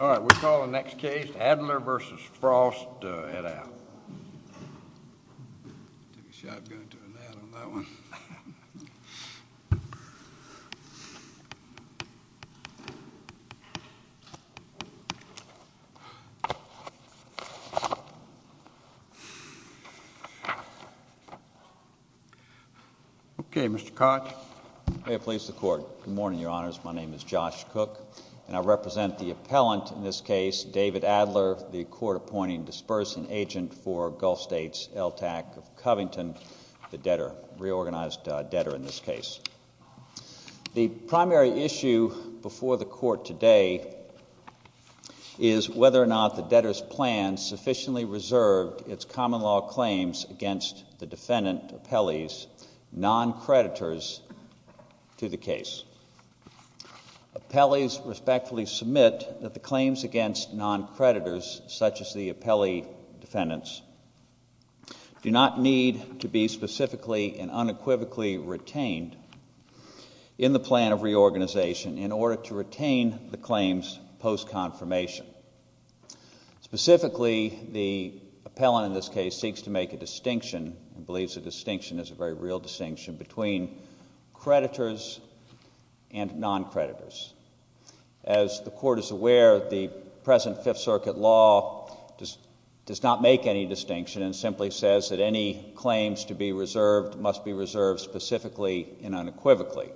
All right, we'll call the next case, Adler v. Frost, to head out. Take a shot going to an ad on that one. Okay, Mr. Koch. May it please the Court. Good morning, Your Honors. My name is Josh Koch, and I represent the appellant in this case, David Adler, the court-appointing dispersant agent for Gulf States LTAC of Covington, the debtor, reorganized debtor in this case. The primary issue before the Court today is whether or not the debtor's plan sufficiently common-law claims against the defendant appellees, non-creditors, to the case. Appellees respectfully submit that the claims against non-creditors, such as the appellee defendants, do not need to be specifically and unequivocally retained in the plan of reorganization in order to retain the claims post-confirmation. Specifically, the appellant in this case seeks to make a distinction, and believes the distinction is a very real distinction, between creditors and non-creditors. As the Court is aware, the present Fifth Circuit law does not make any distinction and simply says that any claims to be reserved must be reserved specifically and unequivocally.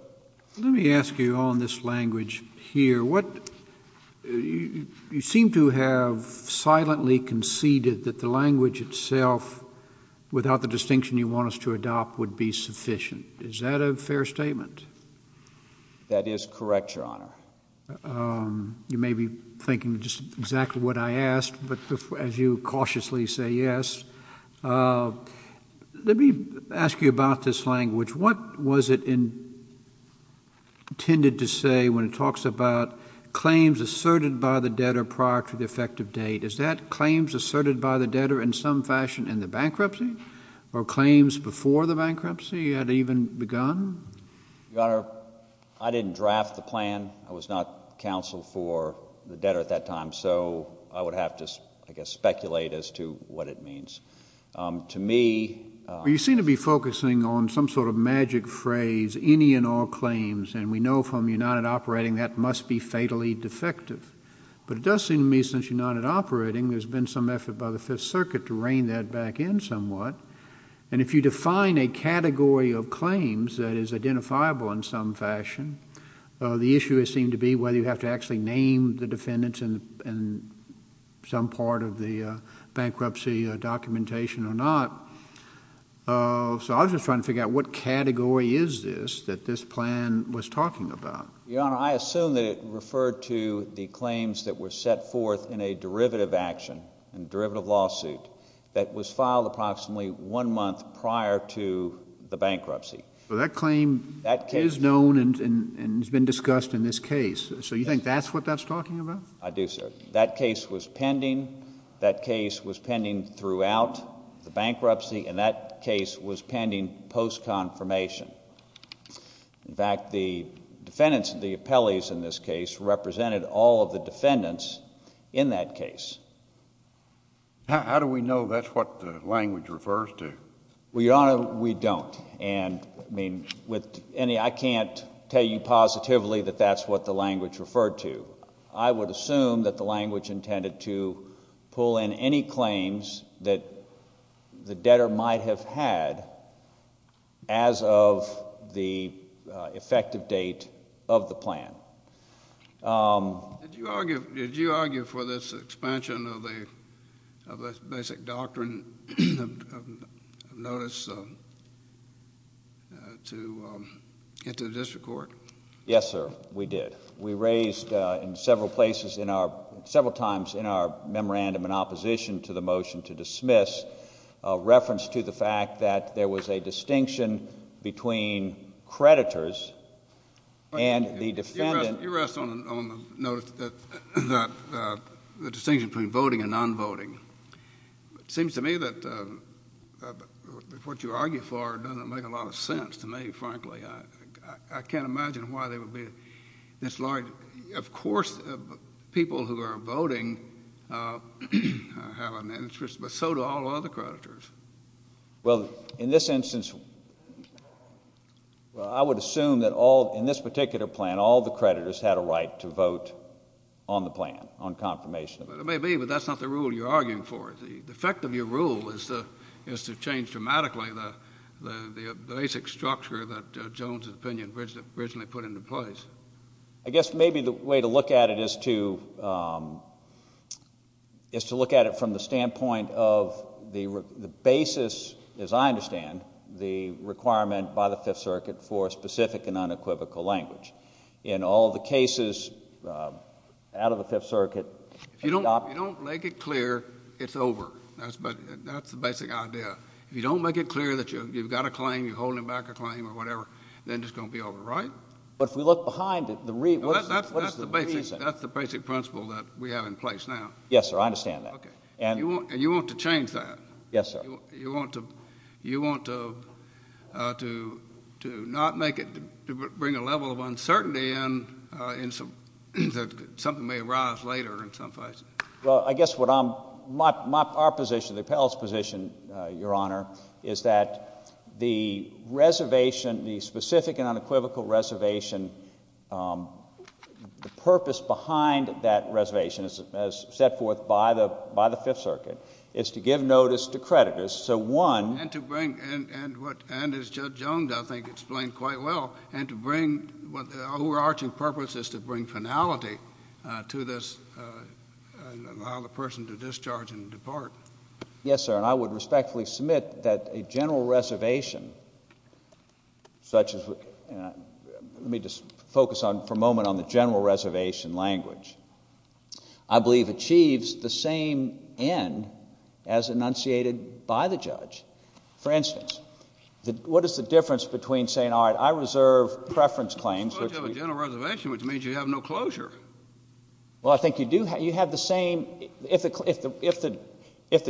Let me ask you on this language here, you seem to have silently conceded that the language itself, without the distinction you want us to adopt, would be sufficient. Is that a fair statement? That is correct, Your Honor. You may be thinking just exactly what I asked, but as you cautiously say yes. Let me ask you about this language. What was it intended to say when it talks about claims asserted by the debtor prior to the effective date? Is that claims asserted by the debtor in some fashion in the bankruptcy, or claims before the bankruptcy had even begun? Your Honor, I didn't draft the plan. I was not counsel for the debtor at that time, so I would have to, I guess, speculate as to what it means. To me... You seem to be focusing on some sort of magic phrase, any and all claims, and we know from United Operating that must be fatally defective, but it does seem to me since United Operating there's been some effort by the Fifth Circuit to rein that back in somewhat, and if you define a category of claims that is identifiable in some fashion, the issue would seem to be whether you have to actually name the defendants in some part of the bankruptcy documentation or not, so I was just trying to figure out what category is this that this plan was talking about. Your Honor, I assume that it referred to the claims that were set forth in a derivative action, in a derivative lawsuit, that was filed approximately one month prior to the bankruptcy. Well, that claim is known and has been discussed in this case, so you think that's what that's talking about? I do, sir. That case was pending, that case was pending throughout the bankruptcy, and that case was pending post-confirmation. In fact, the defendants, the appellees in this case, represented all of the defendants in that case. How do we know that's what the language refers to? Well, Your Honor, we don't, and I can't tell you positively that that's what the language referred to. I would assume that the language intended to pull in any claims that the debtor might have had as of the effective date of the plan. Did you argue for this expansion of the basic doctrine of notice into the district court? Yes, sir, we did. We raised in several places, several times in our memorandum in opposition to the motion to dismiss, a reference to the fact that there was a distinction between creditors and the defendant. You rest on the note that the distinction between voting and non-voting. It seems to me that what you argue for doesn't make a lot of sense to me, frankly. I can't imagine why there would be this large, of course, people who are voting have an interest, but so do all other creditors. Well, in this instance, I would assume that in this particular plan, all the creditors had a right to vote on the plan, on confirmation. It may be, but that's not the rule you're arguing for. The effect of your rule is to change dramatically the basic structure that Jones's opinion originally put into place. I guess maybe the way to look at it is to look at it from the standpoint of the basis, as I understand, the requirement by the Fifth Circuit for a specific and unequivocal language. In all the cases out of the Fifth Circuit— If you don't make it clear, it's over. That's the basic idea. If you don't make it clear that you've got a claim, you're holding back a claim or whatever, then it's going to be over, right? But if we look behind it, what is the reason? That's the basic principle that we have in place now. Yes, sir. I understand that. And you want to change that. Yes, sir. You want to not make it—to bring a level of uncertainty in that something may arise later in some place. Well, I guess what I'm—our position, the appellate's position, Your Honor, is that the reservation, the specific and unequivocal reservation, the purpose behind that reservation, as set forth by the Fifth Circuit, is to give notice to creditors. So one— And to bring—and as Judge Jones, I think, explained quite well, and to bring—the overarching purpose is to bring finality to this and allow the person to discharge and depart. Yes, sir, and I would respectfully submit that a general reservation, such as—let me just focus for a moment on the general reservation language, I believe achieves the same end as enunciated by the judge. For instance, what is the difference between saying, all right, I reserve preference claims— Suppose you have a general reservation, which means you have no closure. Well, I think you do. You have the same—if the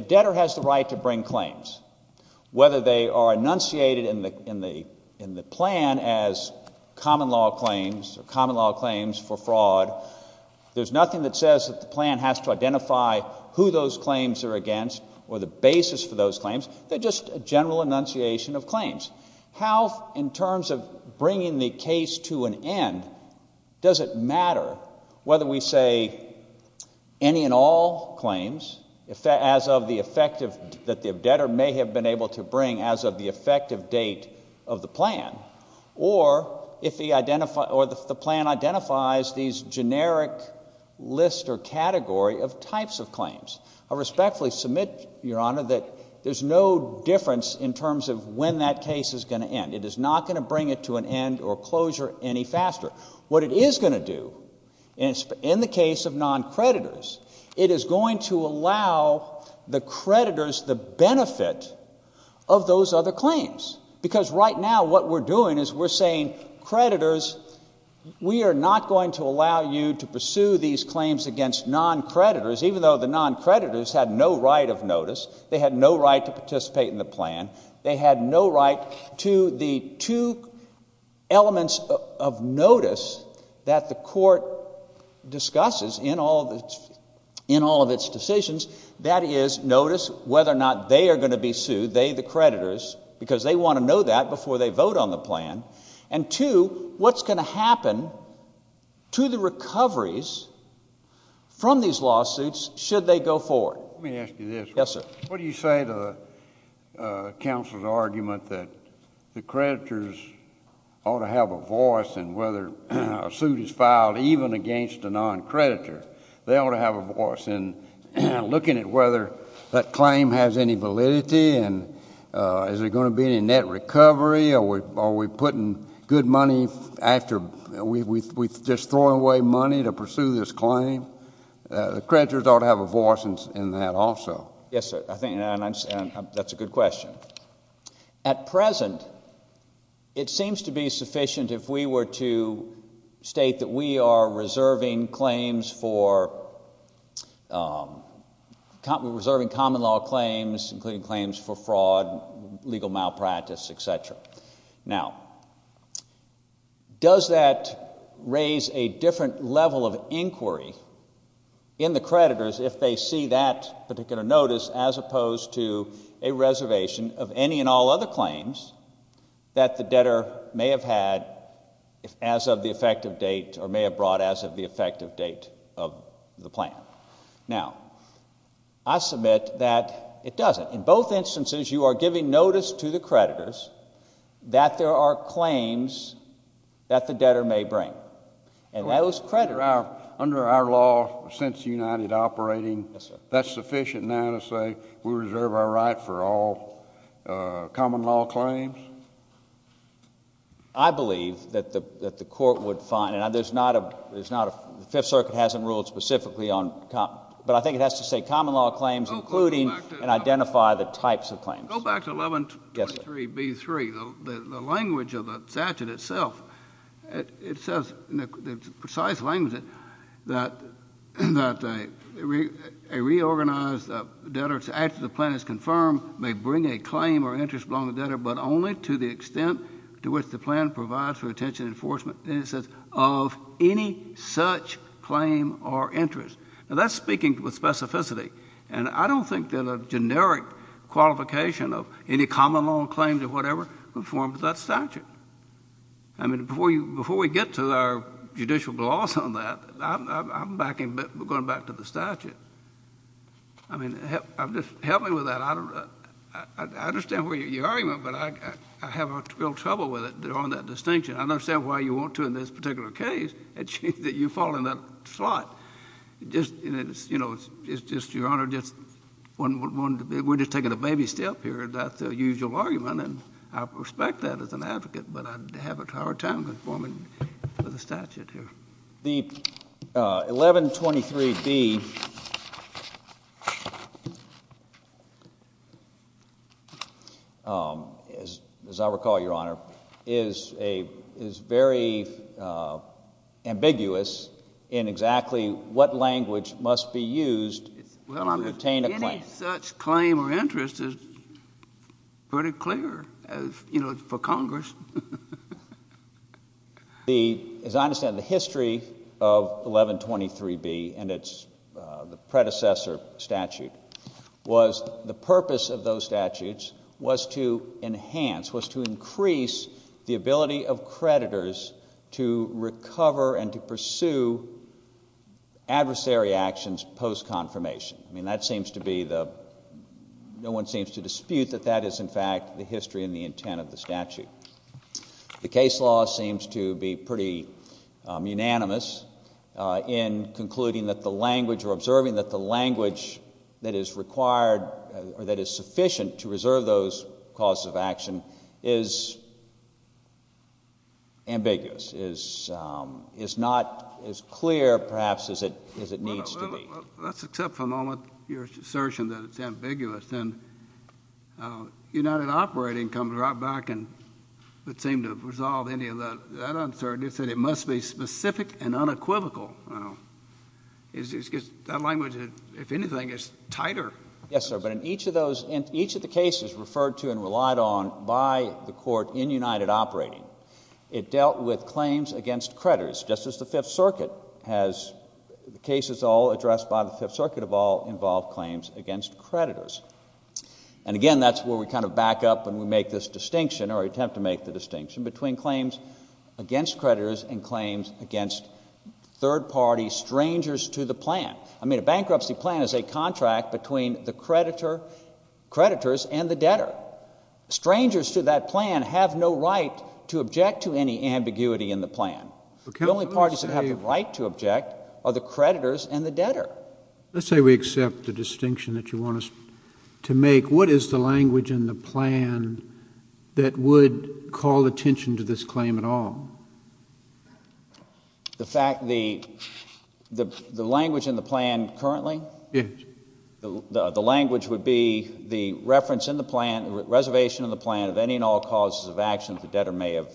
debtor has the right to bring claims, whether they are enunciated in the plan as common law claims or common law claims for fraud, there's nothing that says that the plan has to identify who those claims are against or the basis for those claims. They're just a general enunciation of claims. How, in terms of bringing the case to an end, does it matter whether we say any and all claims as of the effect that the debtor may have been able to bring as of the effective date of the plan or if the plan identifies these generic list or category of types of claims? I respectfully submit, Your Honor, that there's no difference in terms of when that case is going to end. It is not going to bring it to an end or closure any faster. What it is going to do, in the case of noncreditors, it is going to allow the creditors the benefit of those other claims. Because right now what we're doing is we're saying, creditors, we are not going to allow you to pursue these claims against noncreditors, even though the noncreditors had no right of notice. They had no right to participate in the plan. They had no right to the two elements of notice that the court discusses in all of its decisions. That is, notice whether or not they are going to be sued, they, the creditors, because they want to know that before they vote on the plan. And two, what's going to happen to the recoveries from these lawsuits should they go forward? Let me ask you this. Yes, sir. What do you say to counsel's argument that the creditors ought to have a voice in whether a suit is filed even against a noncreditor? They ought to have a voice in looking at whether that claim has any validity and is there going to be any net recovery? Are we putting good money after we've just thrown away money to pursue this claim? The creditors ought to have a voice in that also. Yes, sir. I think that's a good question. At present, it seems to be sufficient if we were to state that we are reserving claims for, reserving common law claims, including claims for fraud, legal malpractice, et cetera. Now, does that raise a different level of inquiry in the creditors if they see that particular notice as opposed to a reservation of any and all other claims that the debtor may have had as of the effective date of the plan? Now, I submit that it doesn't. In both instances, you are giving notice to the creditors that there are claims that the debtor may bring. And that was creditors. Under our law, since United operating, that's sufficient now to say we reserve our right for all common law claims? I believe that the court would find, and the Fifth Circuit hasn't ruled specifically on common law, but I think it has to say common law claims including and identify the types of claims. Go back to 1123B3. The language of the statute itself, it says in precise language that a reorganized debtor, after the plan is confirmed, may bring a claim or interest belonging to the debtor, but only to the extent to which the plan provides for attention and enforcement. And it says of any such claim or interest. Now, that's speaking with specificity. And I don't think that a generic qualification of any common law claims or whatever would form to that statute. I mean, before we get to our judicial gloss on that, I'm going back to the statute. I mean, help me with that. I understand where you're arguing, but I have real trouble with it on that distinction. I understand why you want to in this particular case that you fall in that slot. It's just, Your Honor, we're just taking a baby step here. That's the usual argument, and I respect that as an advocate, but I'd have a hard time conforming to the statute here. The 1123B, as I recall, Your Honor, is very ambiguous in exactly what language must be used to obtain a claim. Any such claim or interest is pretty clear for Congress. As I understand it, the history of 1123B and its predecessor statute was the purpose of those statutes was to enhance, was to increase the ability of creditors to recover and to pursue adversary actions post-confirmation. I mean, that seems to be the one seems to dispute that that is, in fact, the history and the intent of the statute. The case law seems to be pretty unanimous in concluding that the language or observing that the language that is required or that is sufficient to reserve those causes of action is ambiguous, is not as clear, perhaps, as it needs to be. Well, let's accept for a moment your assertion that it's ambiguous. And United Operating comes right back and would seem to have resolved any of that uncertainty. It said it must be specific and unequivocal. That language, if anything, is tighter. Yes, sir, but in each of the cases referred to and relied on by the Court in United Operating, it dealt with claims against creditors, just as the Fifth Circuit has. The cases all addressed by the Fifth Circuit of all involved claims against creditors. And again, that's where we kind of back up and we make this distinction or attempt to make the distinction between claims against creditors and claims against third-party strangers to the plan. I mean, a bankruptcy plan is a contract between the creditors and the debtor. Strangers to that plan have no right to object to any ambiguity in the plan. The only parties that have the right to object are the creditors and the debtor. Let's say we accept the distinction that you want us to make. What is the language in the plan that would call attention to this claim at all? The language in the plan currently? Yes. The language would be the reference in the plan, the reservation in the plan of any and all causes of action that the debtor may have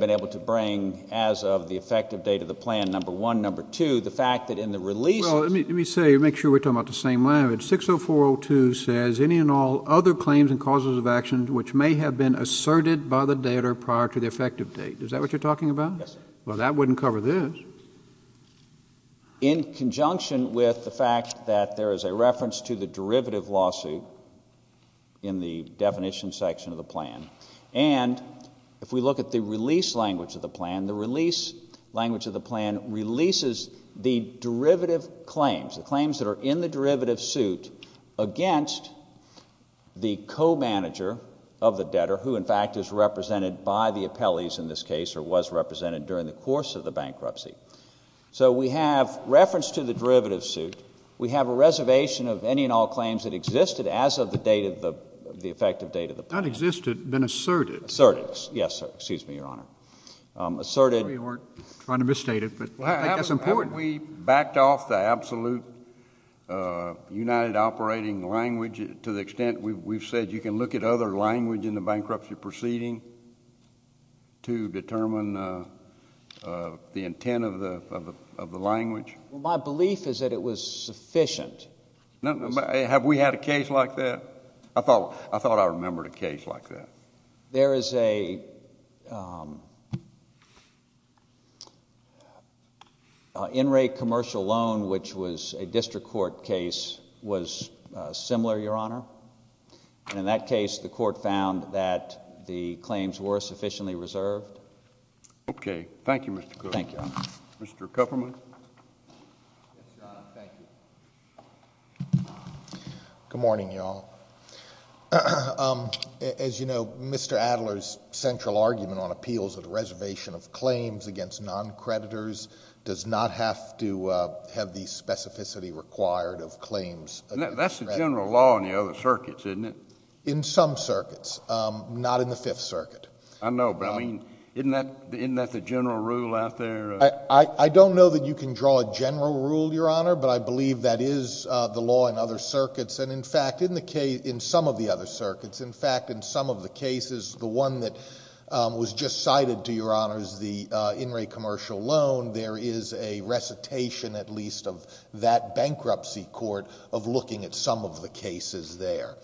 been able to bring as of the effective date of the plan, number one. Number two, the fact that in the releases— Well, let me say, make sure we're talking about the same language. 60402 says any and all other claims and causes of action which may have been asserted by the debtor prior to the effective date. Is that what you're talking about? Yes, sir. Well, that wouldn't cover this. In conjunction with the fact that there is a reference to the derivative lawsuit in the definition section of the plan. And if we look at the release language of the plan, the release language of the plan releases the derivative claims, the claims that are in the derivative suit against the co-manager of the debtor who, in fact, is represented by the appellees in this case or was represented during the course of the bankruptcy. So we have reference to the derivative suit. We have a reservation of any and all claims that existed as of the effective date of the plan. Not existed, been asserted. Asserted, yes, sir. Excuse me, Your Honor. Asserted. We weren't trying to misstate it, but I think that's important. Haven't we backed off the absolute united operating language to the extent we've said you can look at other language in the bankruptcy proceeding to determine the intent of the language? My belief is that it was sufficient. Have we had a case like that? I thought I remembered a case like that. There is a in-rate commercial loan, which was a district court case, was similar, Your Honor. In that case, the court found that the claims were sufficiently reserved. Okay. Thank you, Mr. Cook. Thank you. Mr. Kupferman. Yes, Your Honor. Thank you. Good morning, y'all. As you know, Mr. Adler's central argument on appeals of the reservation of claims against non-creditors does not have to have the specificity required of claims. That's the general law in the other circuits, isn't it? In some circuits, not in the Fifth Circuit. I know, but, I mean, isn't that the general rule out there? I don't know that you can draw a general rule, Your Honor, but I believe that is the law in other circuits. In fact, in some of the other circuits, in fact, in some of the cases, the one that was just cited, to Your Honor, is the in-rate commercial loan. There is a recitation, at least, of that bankruptcy court of looking at some of the cases there.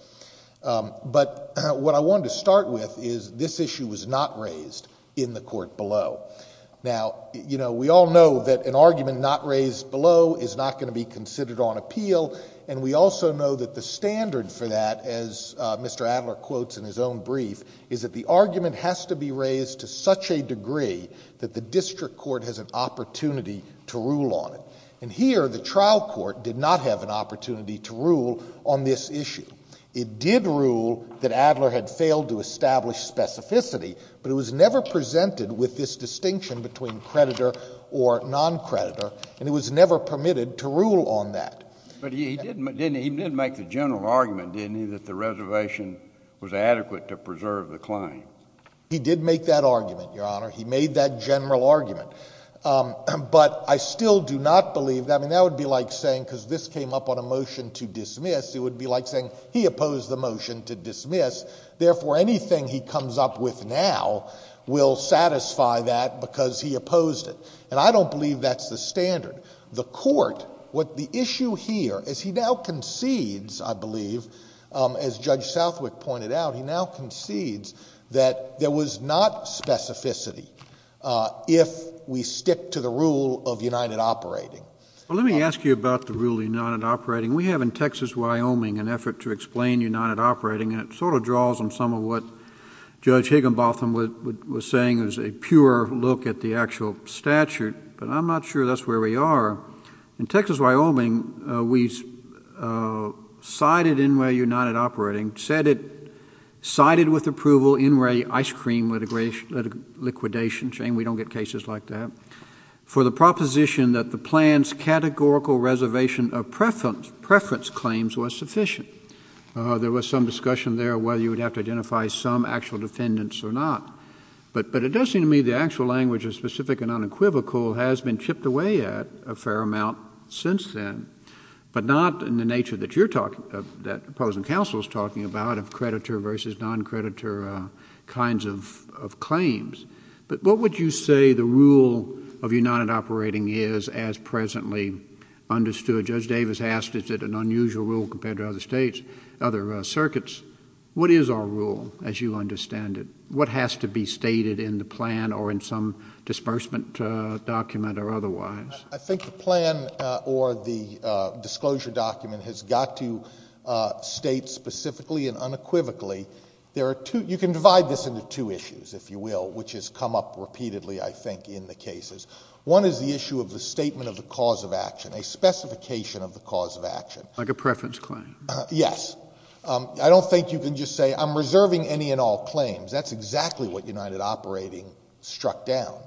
But what I wanted to start with is this issue was not raised in the court below. Now, we all know that an argument not raised below is not going to be considered on appeal, and we also know that the standard for that, as Mr. Adler quotes in his own brief, is that the argument has to be raised to such a degree that the district court has an opportunity to rule on it. And here, the trial court did not have an opportunity to rule on this issue. It did rule that Adler had failed to establish specificity, but it was never presented with this distinction between creditor or non-creditor, and it was never permitted to rule on that. But he did make the general argument, didn't he, that the reservation was adequate to preserve the claim? He did make that argument, Your Honor. He made that general argument. But I still do not believe that. I mean, that would be like saying, because this came up on a motion to dismiss, it would be like saying he opposed the motion to dismiss. Therefore, anything he comes up with now will satisfy that because he opposed it. And I don't believe that's the standard. The court, what the issue here is he now concedes, I believe, as Judge Southwick pointed out, he now concedes that there was not specificity if we stick to the rule of united operating. Well, let me ask you about the rule of united operating. We have in Texas, Wyoming, an effort to explain united operating, and it sort of draws on some of what Judge Higginbotham was saying. It was a pure look at the actual statute, but I'm not sure that's where we are. In Texas, Wyoming, we cited NRA united operating, said it cited with approval NRA ice cream liquidation. Shame we don't get cases like that. For the proposition that the plan's categorical reservation of preference claims was sufficient. There was some discussion there whether you would have to identify some actual defendants or not. But it does seem to me the actual language is specific and unequivocal, has been chipped away at a fair amount since then, but not in the nature that you're talking about, that opposing counsel is talking about of creditor versus non-creditor kinds of claims. But what would you say the rule of united operating is as presently understood? Judge Davis asked, is it an unusual rule compared to other states, other circuits? What is our rule as you understand it? What has to be stated in the plan or in some disbursement document or otherwise? I think the plan or the disclosure document has got to state specifically and unequivocally. You can divide this into two issues, if you will, which has come up repeatedly I think in the cases. One is the issue of the statement of the cause of action, a specification of the cause of action. Like a preference claim. Yes. I don't think you can just say I'm reserving any and all claims. That's exactly what united operating struck down.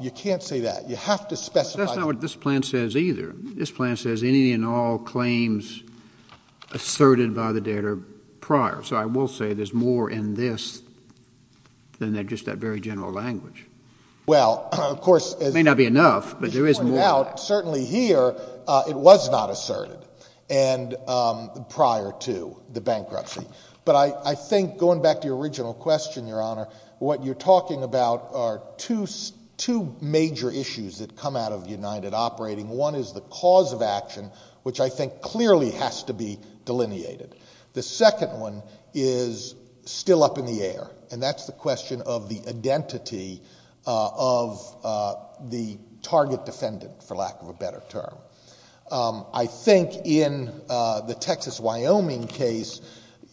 You can't say that. You have to specify. That's not what this plan says either. This plan says any and all claims asserted by the debtor prior. So I will say there's more in this than just that very general language. Well, of course. It may not be enough, but there is more. Certainly here it was not asserted prior to the bankruptcy. But I think going back to your original question, Your Honor, what you're talking about are two major issues that come out of united operating. One is the cause of action, which I think clearly has to be delineated. The second one is still up in the air, and that's the question of the identity of the target defendant, for lack of a better term. I think in the Texas-Wyoming case,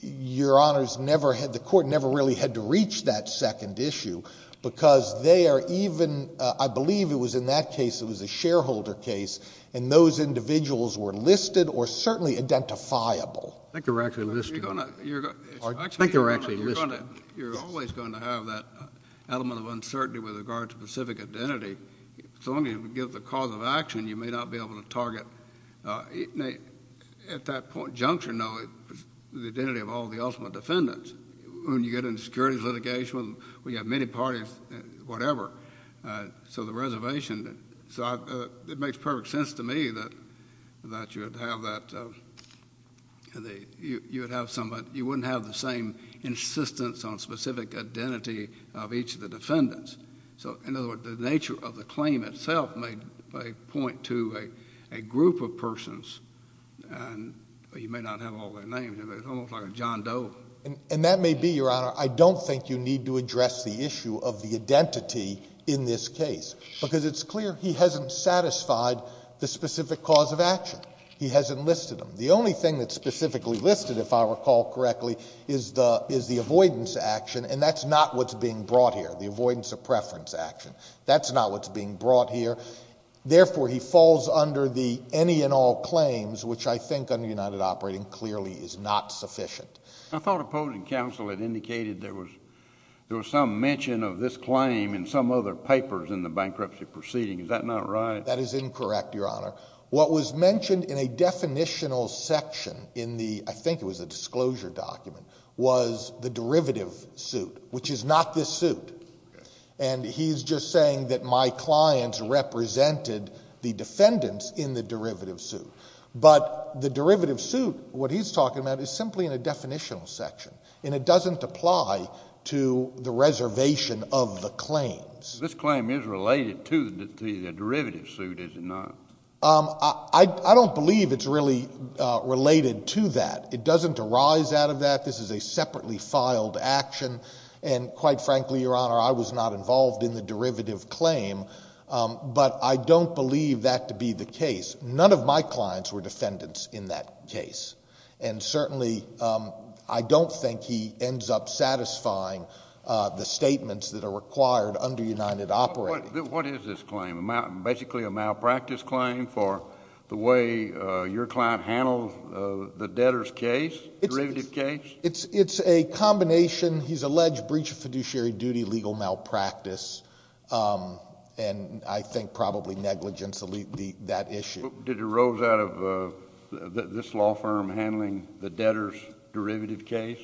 Your Honors, the court never really had to reach that second issue because they are even, I believe it was in that case, it was a shareholder case, and those individuals were listed or certainly identifiable. I think they were actually listed. I think they were actually listed. You're always going to have that element of uncertainty with regard to specific identity. As long as you give the cause of action, you may not be able to target at that point juncture, no, the identity of all the ultimate defendants. When you get into securities litigation, we have many parties, whatever. So the reservation, it makes perfect sense to me that you would have that. You wouldn't have the same insistence on specific identity of each of the defendants. So, in other words, the nature of the claim itself may point to a group of persons, and you may not have all their names, but it's almost like a John Doe. And that may be, Your Honor, I don't think you need to address the issue of the identity in this case because it's clear he hasn't satisfied the specific cause of action. He hasn't listed them. The only thing that's specifically listed, if I recall correctly, is the avoidance action, and that's not what's being brought here, the avoidance of preference action. That's not what's being brought here. Therefore, he falls under the any and all claims, which I think under United Operating clearly is not sufficient. I thought opposing counsel had indicated there was some mention of this claim in some other papers in the bankruptcy proceeding. Is that not right? That is incorrect, Your Honor. What was mentioned in a definitional section in the, I think it was a disclosure document, was the derivative suit, which is not this suit. And he's just saying that my clients represented the defendants in the derivative suit. But the derivative suit, what he's talking about, is simply in a definitional section, and it doesn't apply to the reservation of the claims. This claim is related to the derivative suit, is it not? I don't believe it's really related to that. It doesn't arise out of that. This is a separately filed action, and quite frankly, Your Honor, I was not involved in the derivative claim. But I don't believe that to be the case. None of my clients were defendants in that case. And certainly I don't think he ends up satisfying the statements that are required under United Operating. What is this claim? Basically a malpractice claim for the way your client handled the debtor's case, derivative case? It's a combination. He's alleged breach of fiduciary duty, legal malpractice, and I think probably negligence to leave that issue. Did it arose out of this law firm handling the debtor's derivative case?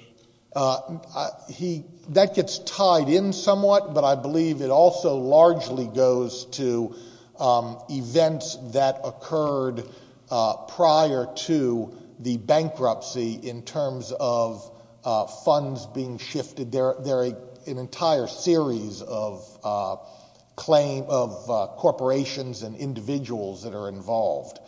That gets tied in somewhat, but I believe it also largely goes to events that occurred prior to the bankruptcy in terms of funds being shifted. There are an entire series of corporations and individuals that are involved.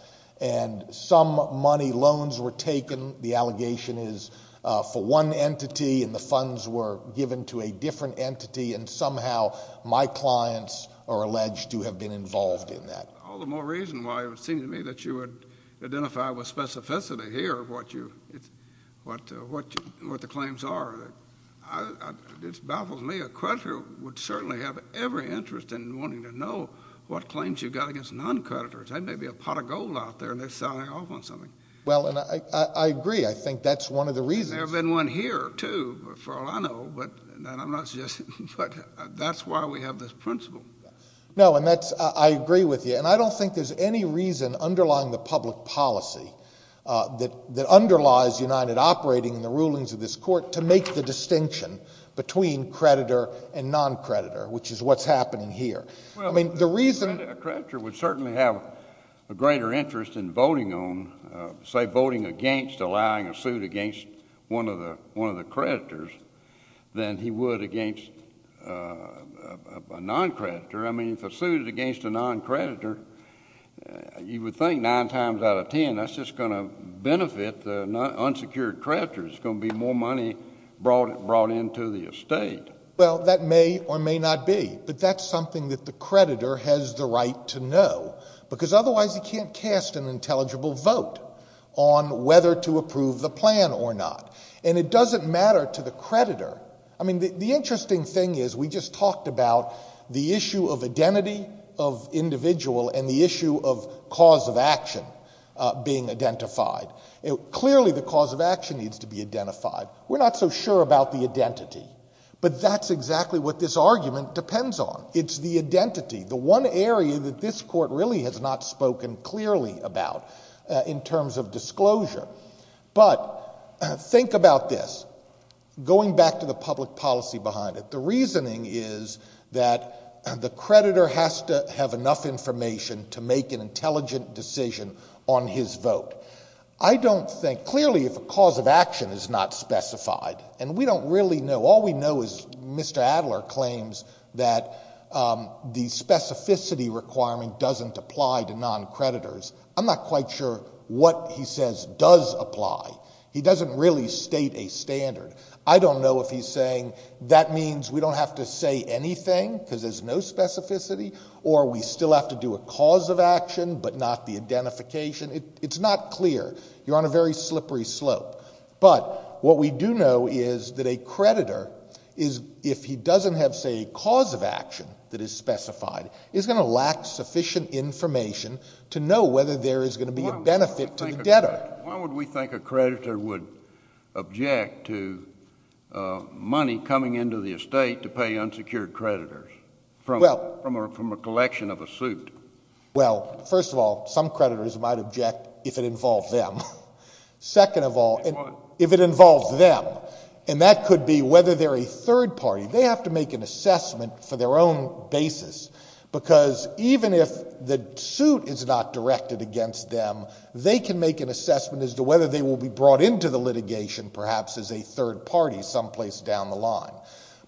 And some money, loans were taken, the allegation is for one entity, and the funds were given to a different entity, and somehow my clients are alleged to have been involved in that. All the more reason why it would seem to me that you would identify with specificity here what the claims are. It baffles me. A creditor would certainly have every interest in wanting to know what claims you've got against non-creditors. That may be a pot of gold out there, and they're selling off on something. Well, and I agree. I think that's one of the reasons. There's been one here, too, for all I know, but I'm not suggesting. But that's why we have this principle. No, and I agree with you. And I don't think there's any reason underlying the public policy that underlies United operating in the rulings of this court to make the distinction between creditor and non-creditor, which is what's happening here. Well, a creditor would certainly have a greater interest in voting on, say, voting against, a suit against one of the creditors than he would against a non-creditor. I mean, if a suit is against a non-creditor, you would think nine times out of ten that's just going to benefit the unsecured creditor. It's going to be more money brought into the estate. Well, that may or may not be, but that's something that the creditor has the right to know, because otherwise he can't cast an intelligible vote on whether to approve the plan or not. And it doesn't matter to the creditor. I mean, the interesting thing is we just talked about the issue of identity of individual and the issue of cause of action being identified. Clearly the cause of action needs to be identified. We're not so sure about the identity, but that's exactly what this argument depends on. It's the identity, the one area that this court really has not spoken clearly about in terms of disclosure. But think about this, going back to the public policy behind it. The reasoning is that the creditor has to have enough information to make an intelligent decision on his vote. I don't think, clearly if a cause of action is not specified, and we don't really know, all we know is Mr. Adler claims that the specificity requirement doesn't apply to non-creditors. I'm not quite sure what he says does apply. He doesn't really state a standard. I don't know if he's saying that means we don't have to say anything because there's no specificity, or we still have to do a cause of action but not the identification. It's not clear. You're on a very slippery slope. But what we do know is that a creditor, if he doesn't have, say, a cause of action that is specified, is going to lack sufficient information to know whether there is going to be a benefit to the debtor. Why would we think a creditor would object to money coming into the estate to pay unsecured creditors from a collection of a suit? Well, first of all, some creditors might object if it involved them. Second of all, if it involves them, and that could be whether they're a third party, they have to make an assessment for their own basis because even if the suit is not directed against them, they can make an assessment as to whether they will be brought into the litigation perhaps as a third party someplace down the line.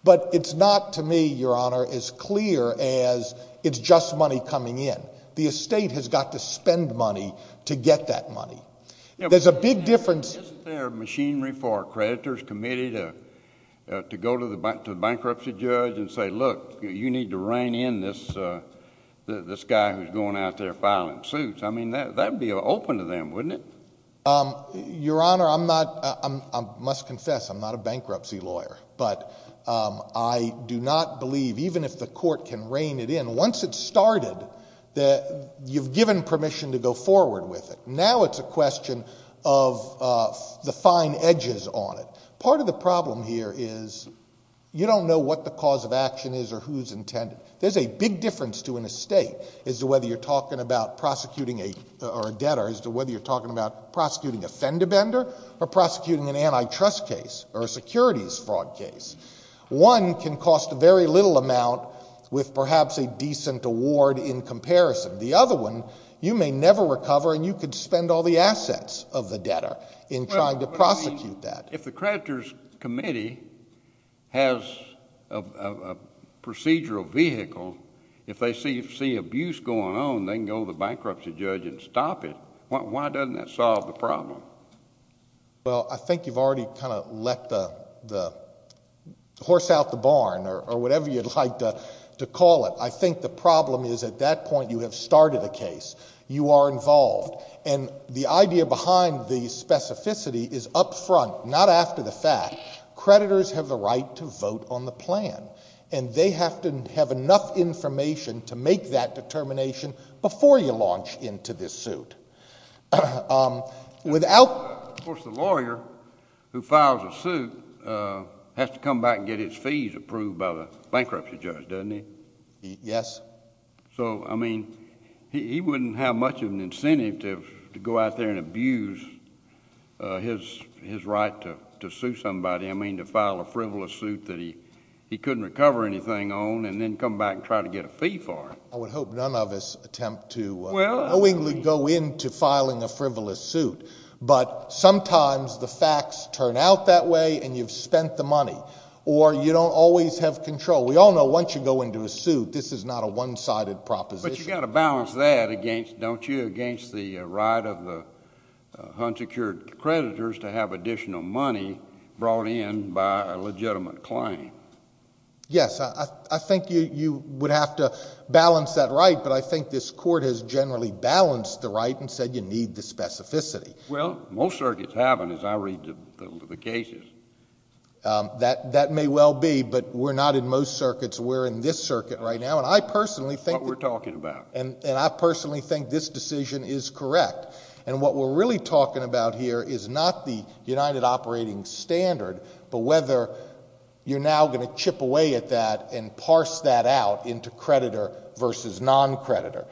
But it's not to me, Your Honor, as clear as it's just money coming in. The estate has got to spend money to get that money. There's a big difference. Isn't there machinery for a creditor's committee to go to the bankruptcy judge and say, look, you need to rein in this guy who's going out there filing suits? I mean, that would be open to them, wouldn't it? Your Honor, I must confess I'm not a bankruptcy lawyer. But I do not believe even if the court can rein it in, once it's started, you've given permission to go forward with it. Now it's a question of the fine edges on it. Part of the problem here is you don't know what the cause of action is or who's intended. There's a big difference to an estate as to whether you're talking about prosecuting a debtor, as to whether you're talking about prosecuting a fender bender or prosecuting an antitrust case or a securities fraud case. One can cost a very little amount with perhaps a decent award in comparison. The other one, you may never recover and you could spend all the assets of the debtor in trying to prosecute that. But, I mean, if the creditor's committee has a procedural vehicle, if they see abuse going on, they can go to the bankruptcy judge and stop it. Why doesn't that solve the problem? Well, I think you've already kind of let the horse out the barn or whatever you'd like to call it. I think the problem is at that point you have started a case, you are involved, and the idea behind the specificity is up front, not after the fact. Creditors have the right to vote on the plan, and they have to have enough information to make that determination before you launch into this suit. Of course, the lawyer who files a suit has to come back and get his fees approved by the bankruptcy judge, doesn't he? Yes. So, I mean, he wouldn't have much of an incentive to go out there and abuse his right to sue somebody. I mean, to file a frivolous suit that he couldn't recover anything on and then come back and try to get a fee for it. I would hope none of us attempt to knowingly go into filing a frivolous suit, but sometimes the facts turn out that way and you've spent the money, or you don't always have control. We all know once you go into a suit, this is not a one-sided proposition. But you've got to balance that, don't you, against the right of the unsecured creditors to have additional money brought in by a legitimate claim. Yes, I think you would have to balance that right, but I think this Court has generally balanced the right and said you need the specificity. Well, most circuits haven't, as I read the cases. That may well be, but we're not in most circuits. We're in this circuit right now, and I personally think— That's what we're talking about. And I personally think this decision is correct. And what we're really talking about here is not the United Operating Standard, but whether you're now going to chip away at that and parse that out into creditor versus non-creditor.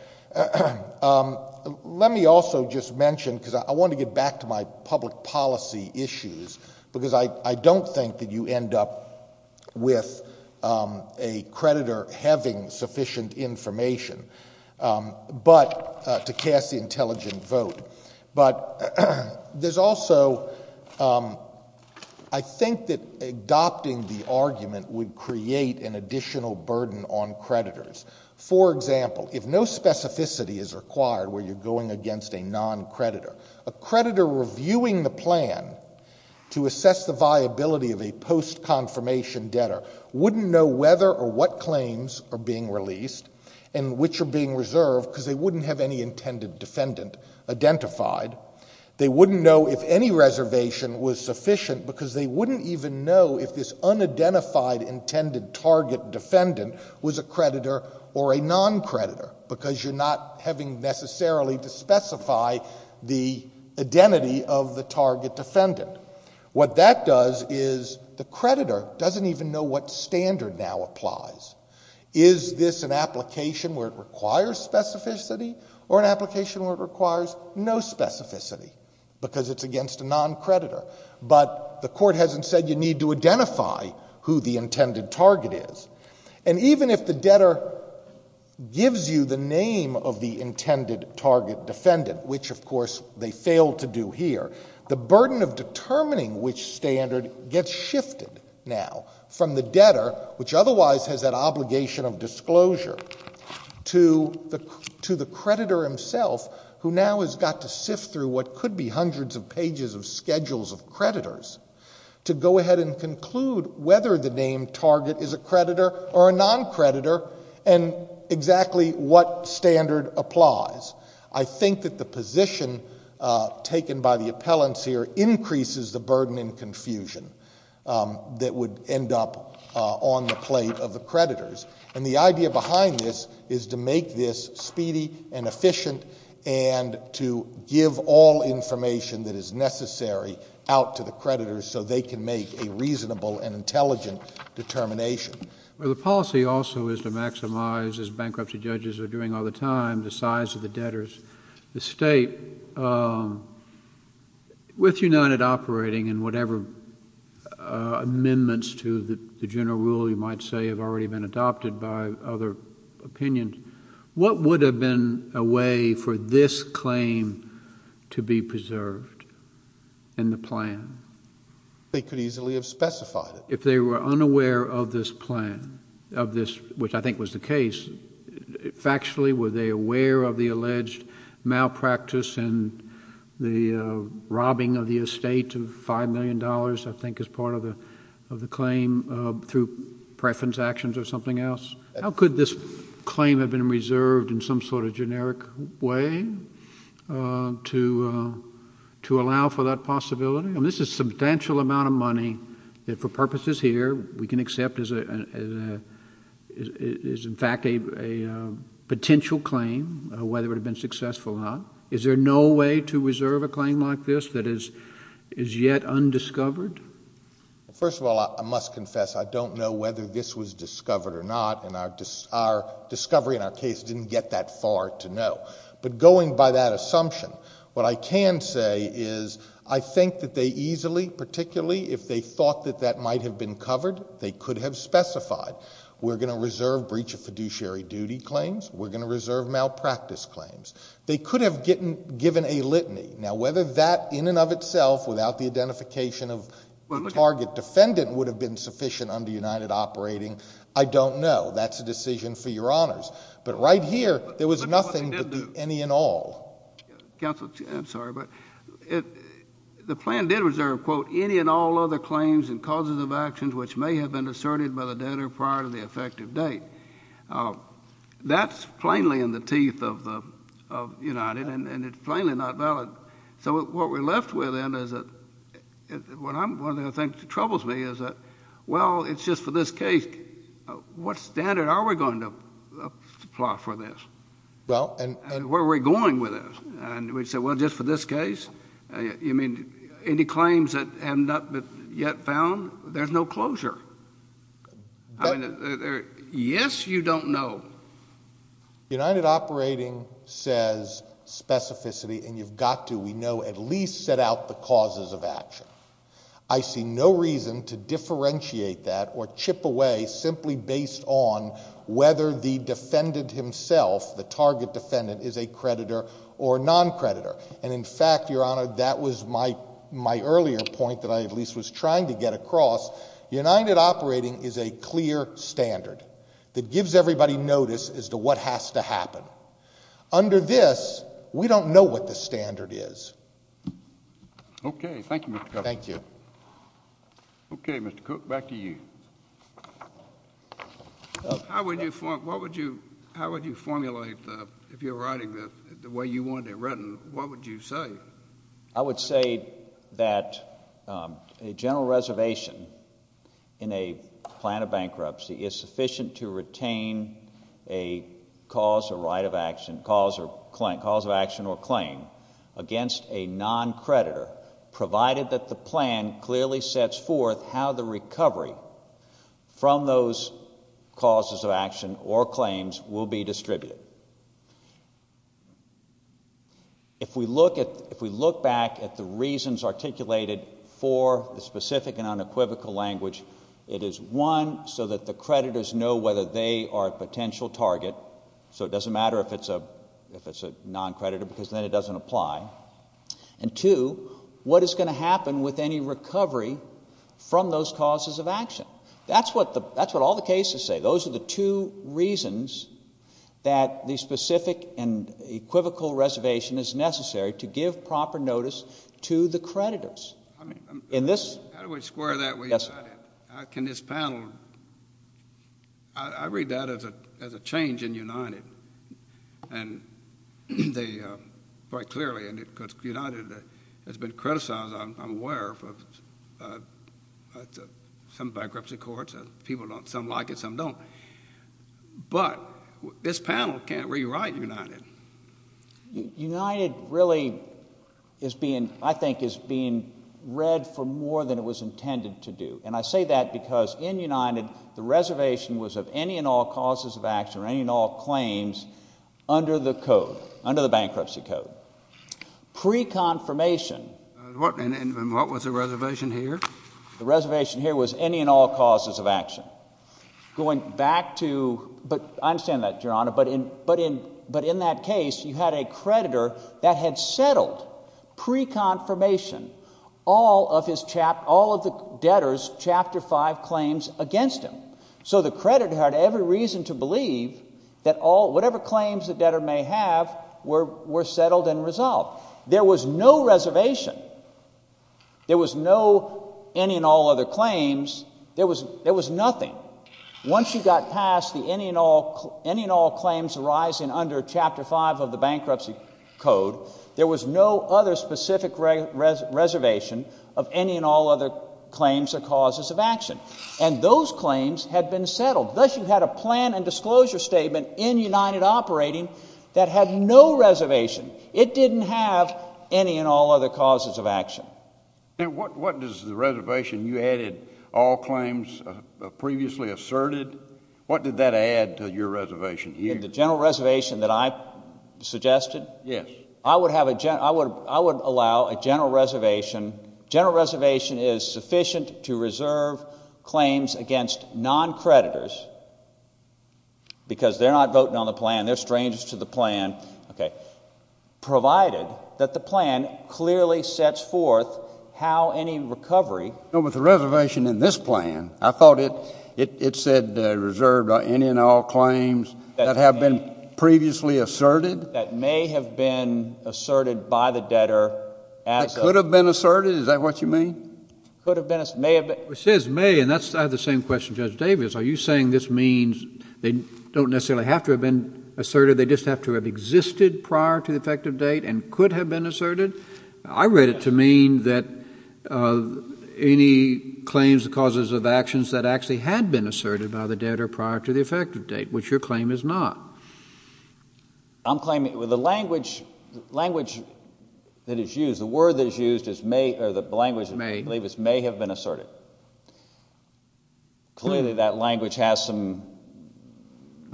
Let me also just mention, because I want to get back to my public policy issues, because I don't think that you end up with a creditor having sufficient information, but—to cast the intelligent vote. But there's also—I think that adopting the argument would create an additional burden on creditors. For example, if no specificity is required where you're going against a non-creditor, a creditor reviewing the plan to assess the viability of a post-confirmation debtor wouldn't know whether or what claims are being released and which are being reserved because they wouldn't have any intended defendant identified. They wouldn't know if any reservation was sufficient because they wouldn't even know if this unidentified intended target defendant was a creditor or a non-creditor because you're not having necessarily to specify the identity of the target defendant. What that does is the creditor doesn't even know what standard now applies. Is this an application where it requires specificity or an application where it requires no specificity because it's against a non-creditor? But the court hasn't said you need to identify who the intended target is. And even if the debtor gives you the name of the intended target defendant, which, of course, they failed to do here, the burden of determining which standard gets shifted now from the debtor, which otherwise has that obligation of disclosure, to the creditor himself, who now has got to sift through what could be hundreds of pages of schedules of creditors to go ahead and conclude whether the name target is a creditor or a non-creditor and exactly what standard applies. I think that the position taken by the appellants here increases the burden and confusion that would end up on the plate of the creditors. And the idea behind this is to make this speedy and efficient and to give all information that is necessary out to the creditors so they can make a reasonable and intelligent determination. Well, the policy also is to maximize, as bankruptcy judges are doing all the time, the size of the debtors. The State, with United operating and whatever amendments to the general rule you might say have already been adopted by other opinions, what would have been a way for this claim to be preserved in the plan? They could easily have specified it. If they were unaware of this plan, which I think was the case, factually were they aware of the alleged malpractice and the robbing of the estate of $5 million, I think is part of the claim, through preference actions or something else? How could this claim have been reserved in some sort of generic way to allow for that possibility? This is a substantial amount of money that for purposes here we can accept is in fact a potential claim, whether it would have been successful or not. Is there no way to reserve a claim like this that is yet undiscovered? First of all, I must confess I don't know whether this was discovered or not, and our discovery in our case didn't get that far to know. But going by that assumption, what I can say is I think that they easily, particularly if they thought that that might have been covered, they could have specified, we're going to reserve breach of fiduciary duty claims, we're going to reserve malpractice claims. They could have given a litany. Now whether that in and of itself without the identification of the target defendant would have been sufficient under United operating, I don't know. That's a decision for your honors. But right here there was nothing but the any and all. Counsel, I'm sorry, but the plan did reserve, quote, any and all other claims and causes of actions which may have been asserted by the debtor prior to the effective date. That's plainly in the teeth of United, and it's plainly not valid. So what we're left with then is that one of the things that troubles me is that, well, it's just for this case, what standard are we going to apply for this? And where are we going with this? And we say, well, just for this case? You mean any claims that have not yet been found? There's no closure. Yes, you don't know. United operating says specificity, and you've got to, we know, at least set out the causes of action. I see no reason to differentiate that or chip away simply based on whether the defendant himself, the target defendant, is a creditor or non-creditor. And in fact, your honor, that was my earlier point that I at least was trying to get across. United operating is a clear standard that gives everybody notice as to what has to happen. Under this, we don't know what the standard is. Okay, thank you, Mr. Governor. Thank you. Okay, Mr. Cook, back to you. How would you formulate, if you're writing this, the way you want it written, what would you say? I would say that a general reservation in a plan of bankruptcy is sufficient to retain a cause, a right of action, cause of action or claim against a non-creditor, provided that the plan clearly sets forth how the recovery from those causes of action or claims will be distributed. If we look back at the reasons articulated for the specific and unequivocal language, it is, one, so that the creditors know whether they are a potential target, so it doesn't matter if it's a non-creditor because then it doesn't apply, and two, what is going to happen with any recovery from those causes of action. That's what all the cases say. Those are the two reasons that the specific and equivocal reservation is necessary to give proper notice to the creditors. How do we square that? Can this panel? I read that as a change in United, quite clearly, because United has been criticized, I'm aware, by some bankruptcy courts, some like it, some don't, but this panel can't rewrite United. United really, I think, is being read for more than it was intended to do, and I say that because in United the reservation was of any and all causes of action or any and all claims under the code, under the bankruptcy code. Pre-confirmation. And what was the reservation here? The reservation here was any and all causes of action. Going back to, I understand that, Your Honor, but in that case you had a creditor that had settled pre-confirmation all of the debtor's Chapter 5 claims against him. So the creditor had every reason to believe that whatever claims the debtor may have were settled and resolved. There was no reservation. There was no any and all other claims. There was nothing. Once you got past the any and all claims arising under Chapter 5 of the bankruptcy code, there was no other specific reservation of any and all other claims or causes of action. And those claims had been settled. Thus, you had a plan and disclosure statement in United Operating that had no reservation. It didn't have any and all other causes of action. Now, what does the reservation you added, all claims previously asserted, what did that add to your reservation here? The general reservation that I suggested? Yes. I would allow a general reservation. General reservation is sufficient to reserve claims against non-creditors because they're not voting on the plan. They're strangers to the plan. Okay. Provided that the plan clearly sets forth how any recovery. With the reservation in this plan, I thought it said reserved any and all claims that have been previously asserted. That may have been asserted by the debtor. It could have been asserted. Is that what you mean? It could have been asserted. It says may, and I have the same question, Judge Davis. Are you saying this means they don't necessarily have to have been asserted, they just have to have existed prior to the effective date and could have been asserted? I read it to mean that any claims or causes of actions that actually had been asserted by the debtor prior to the effective date, which your claim is not. I'm claiming the language that is used, the word that is used is may, or the language I believe is may have been asserted. Clearly that language has some,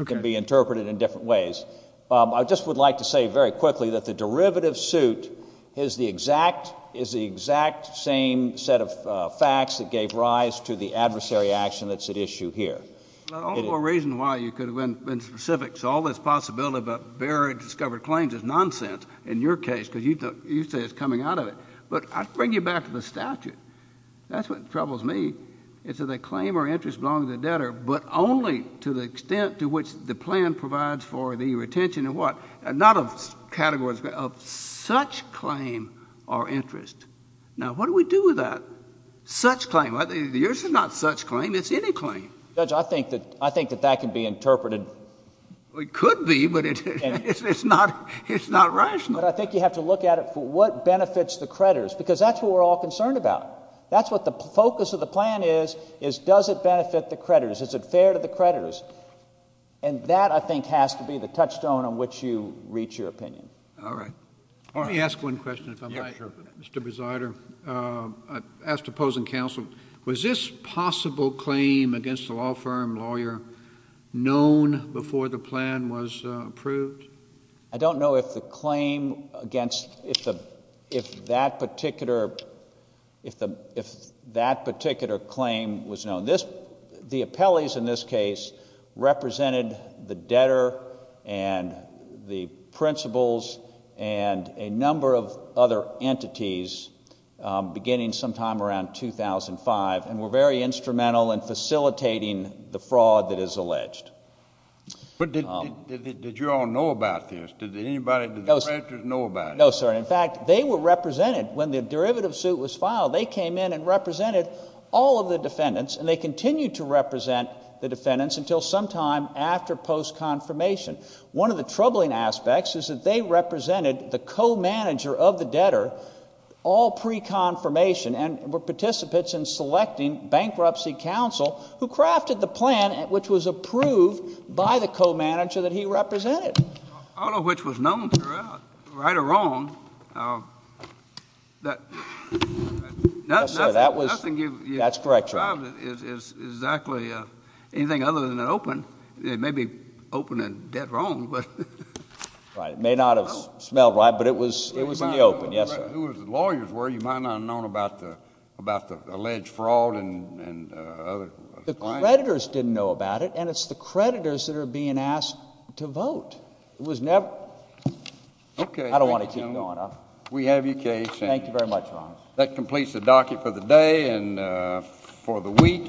can be interpreted in different ways. I just would like to say very quickly that the derivative suit is the exact same set of facts that gave rise to the adversary action that's at issue here. All the more reason why you could have been specific. So all this possibility about buried, discovered claims is nonsense in your case because you say it's coming out of it. But I bring you back to the statute. That's what troubles me. It says a claim or interest belongs to the debtor but only to the extent to which the plan provides for the retention of what? Not of categories, of such claim or interest. Now, what do we do with that? Such claim. Yours is not such claim. It's any claim. Judge, I think that that can be interpreted. It could be, but it's not rational. But I think you have to look at it for what benefits the creditors because that's what we're all concerned about. That's what the focus of the plan is, is does it benefit the creditors? Is it fair to the creditors? And that, I think, has to be the touchstone on which you reach your opinion. All right. Let me ask one question if I may. Mr. Besider, I ask opposing counsel, was this possible claim against the law firm lawyer known before the plan was approved? I don't know if the claim against, if that particular claim was known. The appellees in this case represented the debtor and the principals and a number of other entities beginning sometime around 2005 and were very instrumental in facilitating the fraud that is alleged. But did you all know about this? Did anybody, did the creditors know about it? No, sir. In fact, they were represented when the derivative suit was filed. They came in and represented all of the defendants, and they continued to represent the defendants until sometime after post-confirmation. One of the troubling aspects is that they represented the co-manager of the debtor all pre-confirmation and were participants in selecting bankruptcy counsel who crafted the plan which was approved by the co-manager that he represented. All of which was known throughout, right or wrong. Nothing you described is exactly anything other than an open. It may be open and dead wrong. Right. It may not have smelled right, but it was in the open. Yes, sir. Who the lawyers were, you might not have known about the alleged fraud and other claims. The creditors didn't know about it, and it's the creditors that are being asked to vote. I don't want to keep going. We have your case. Thank you very much, Your Honor. That completes the docket for the day and for the week.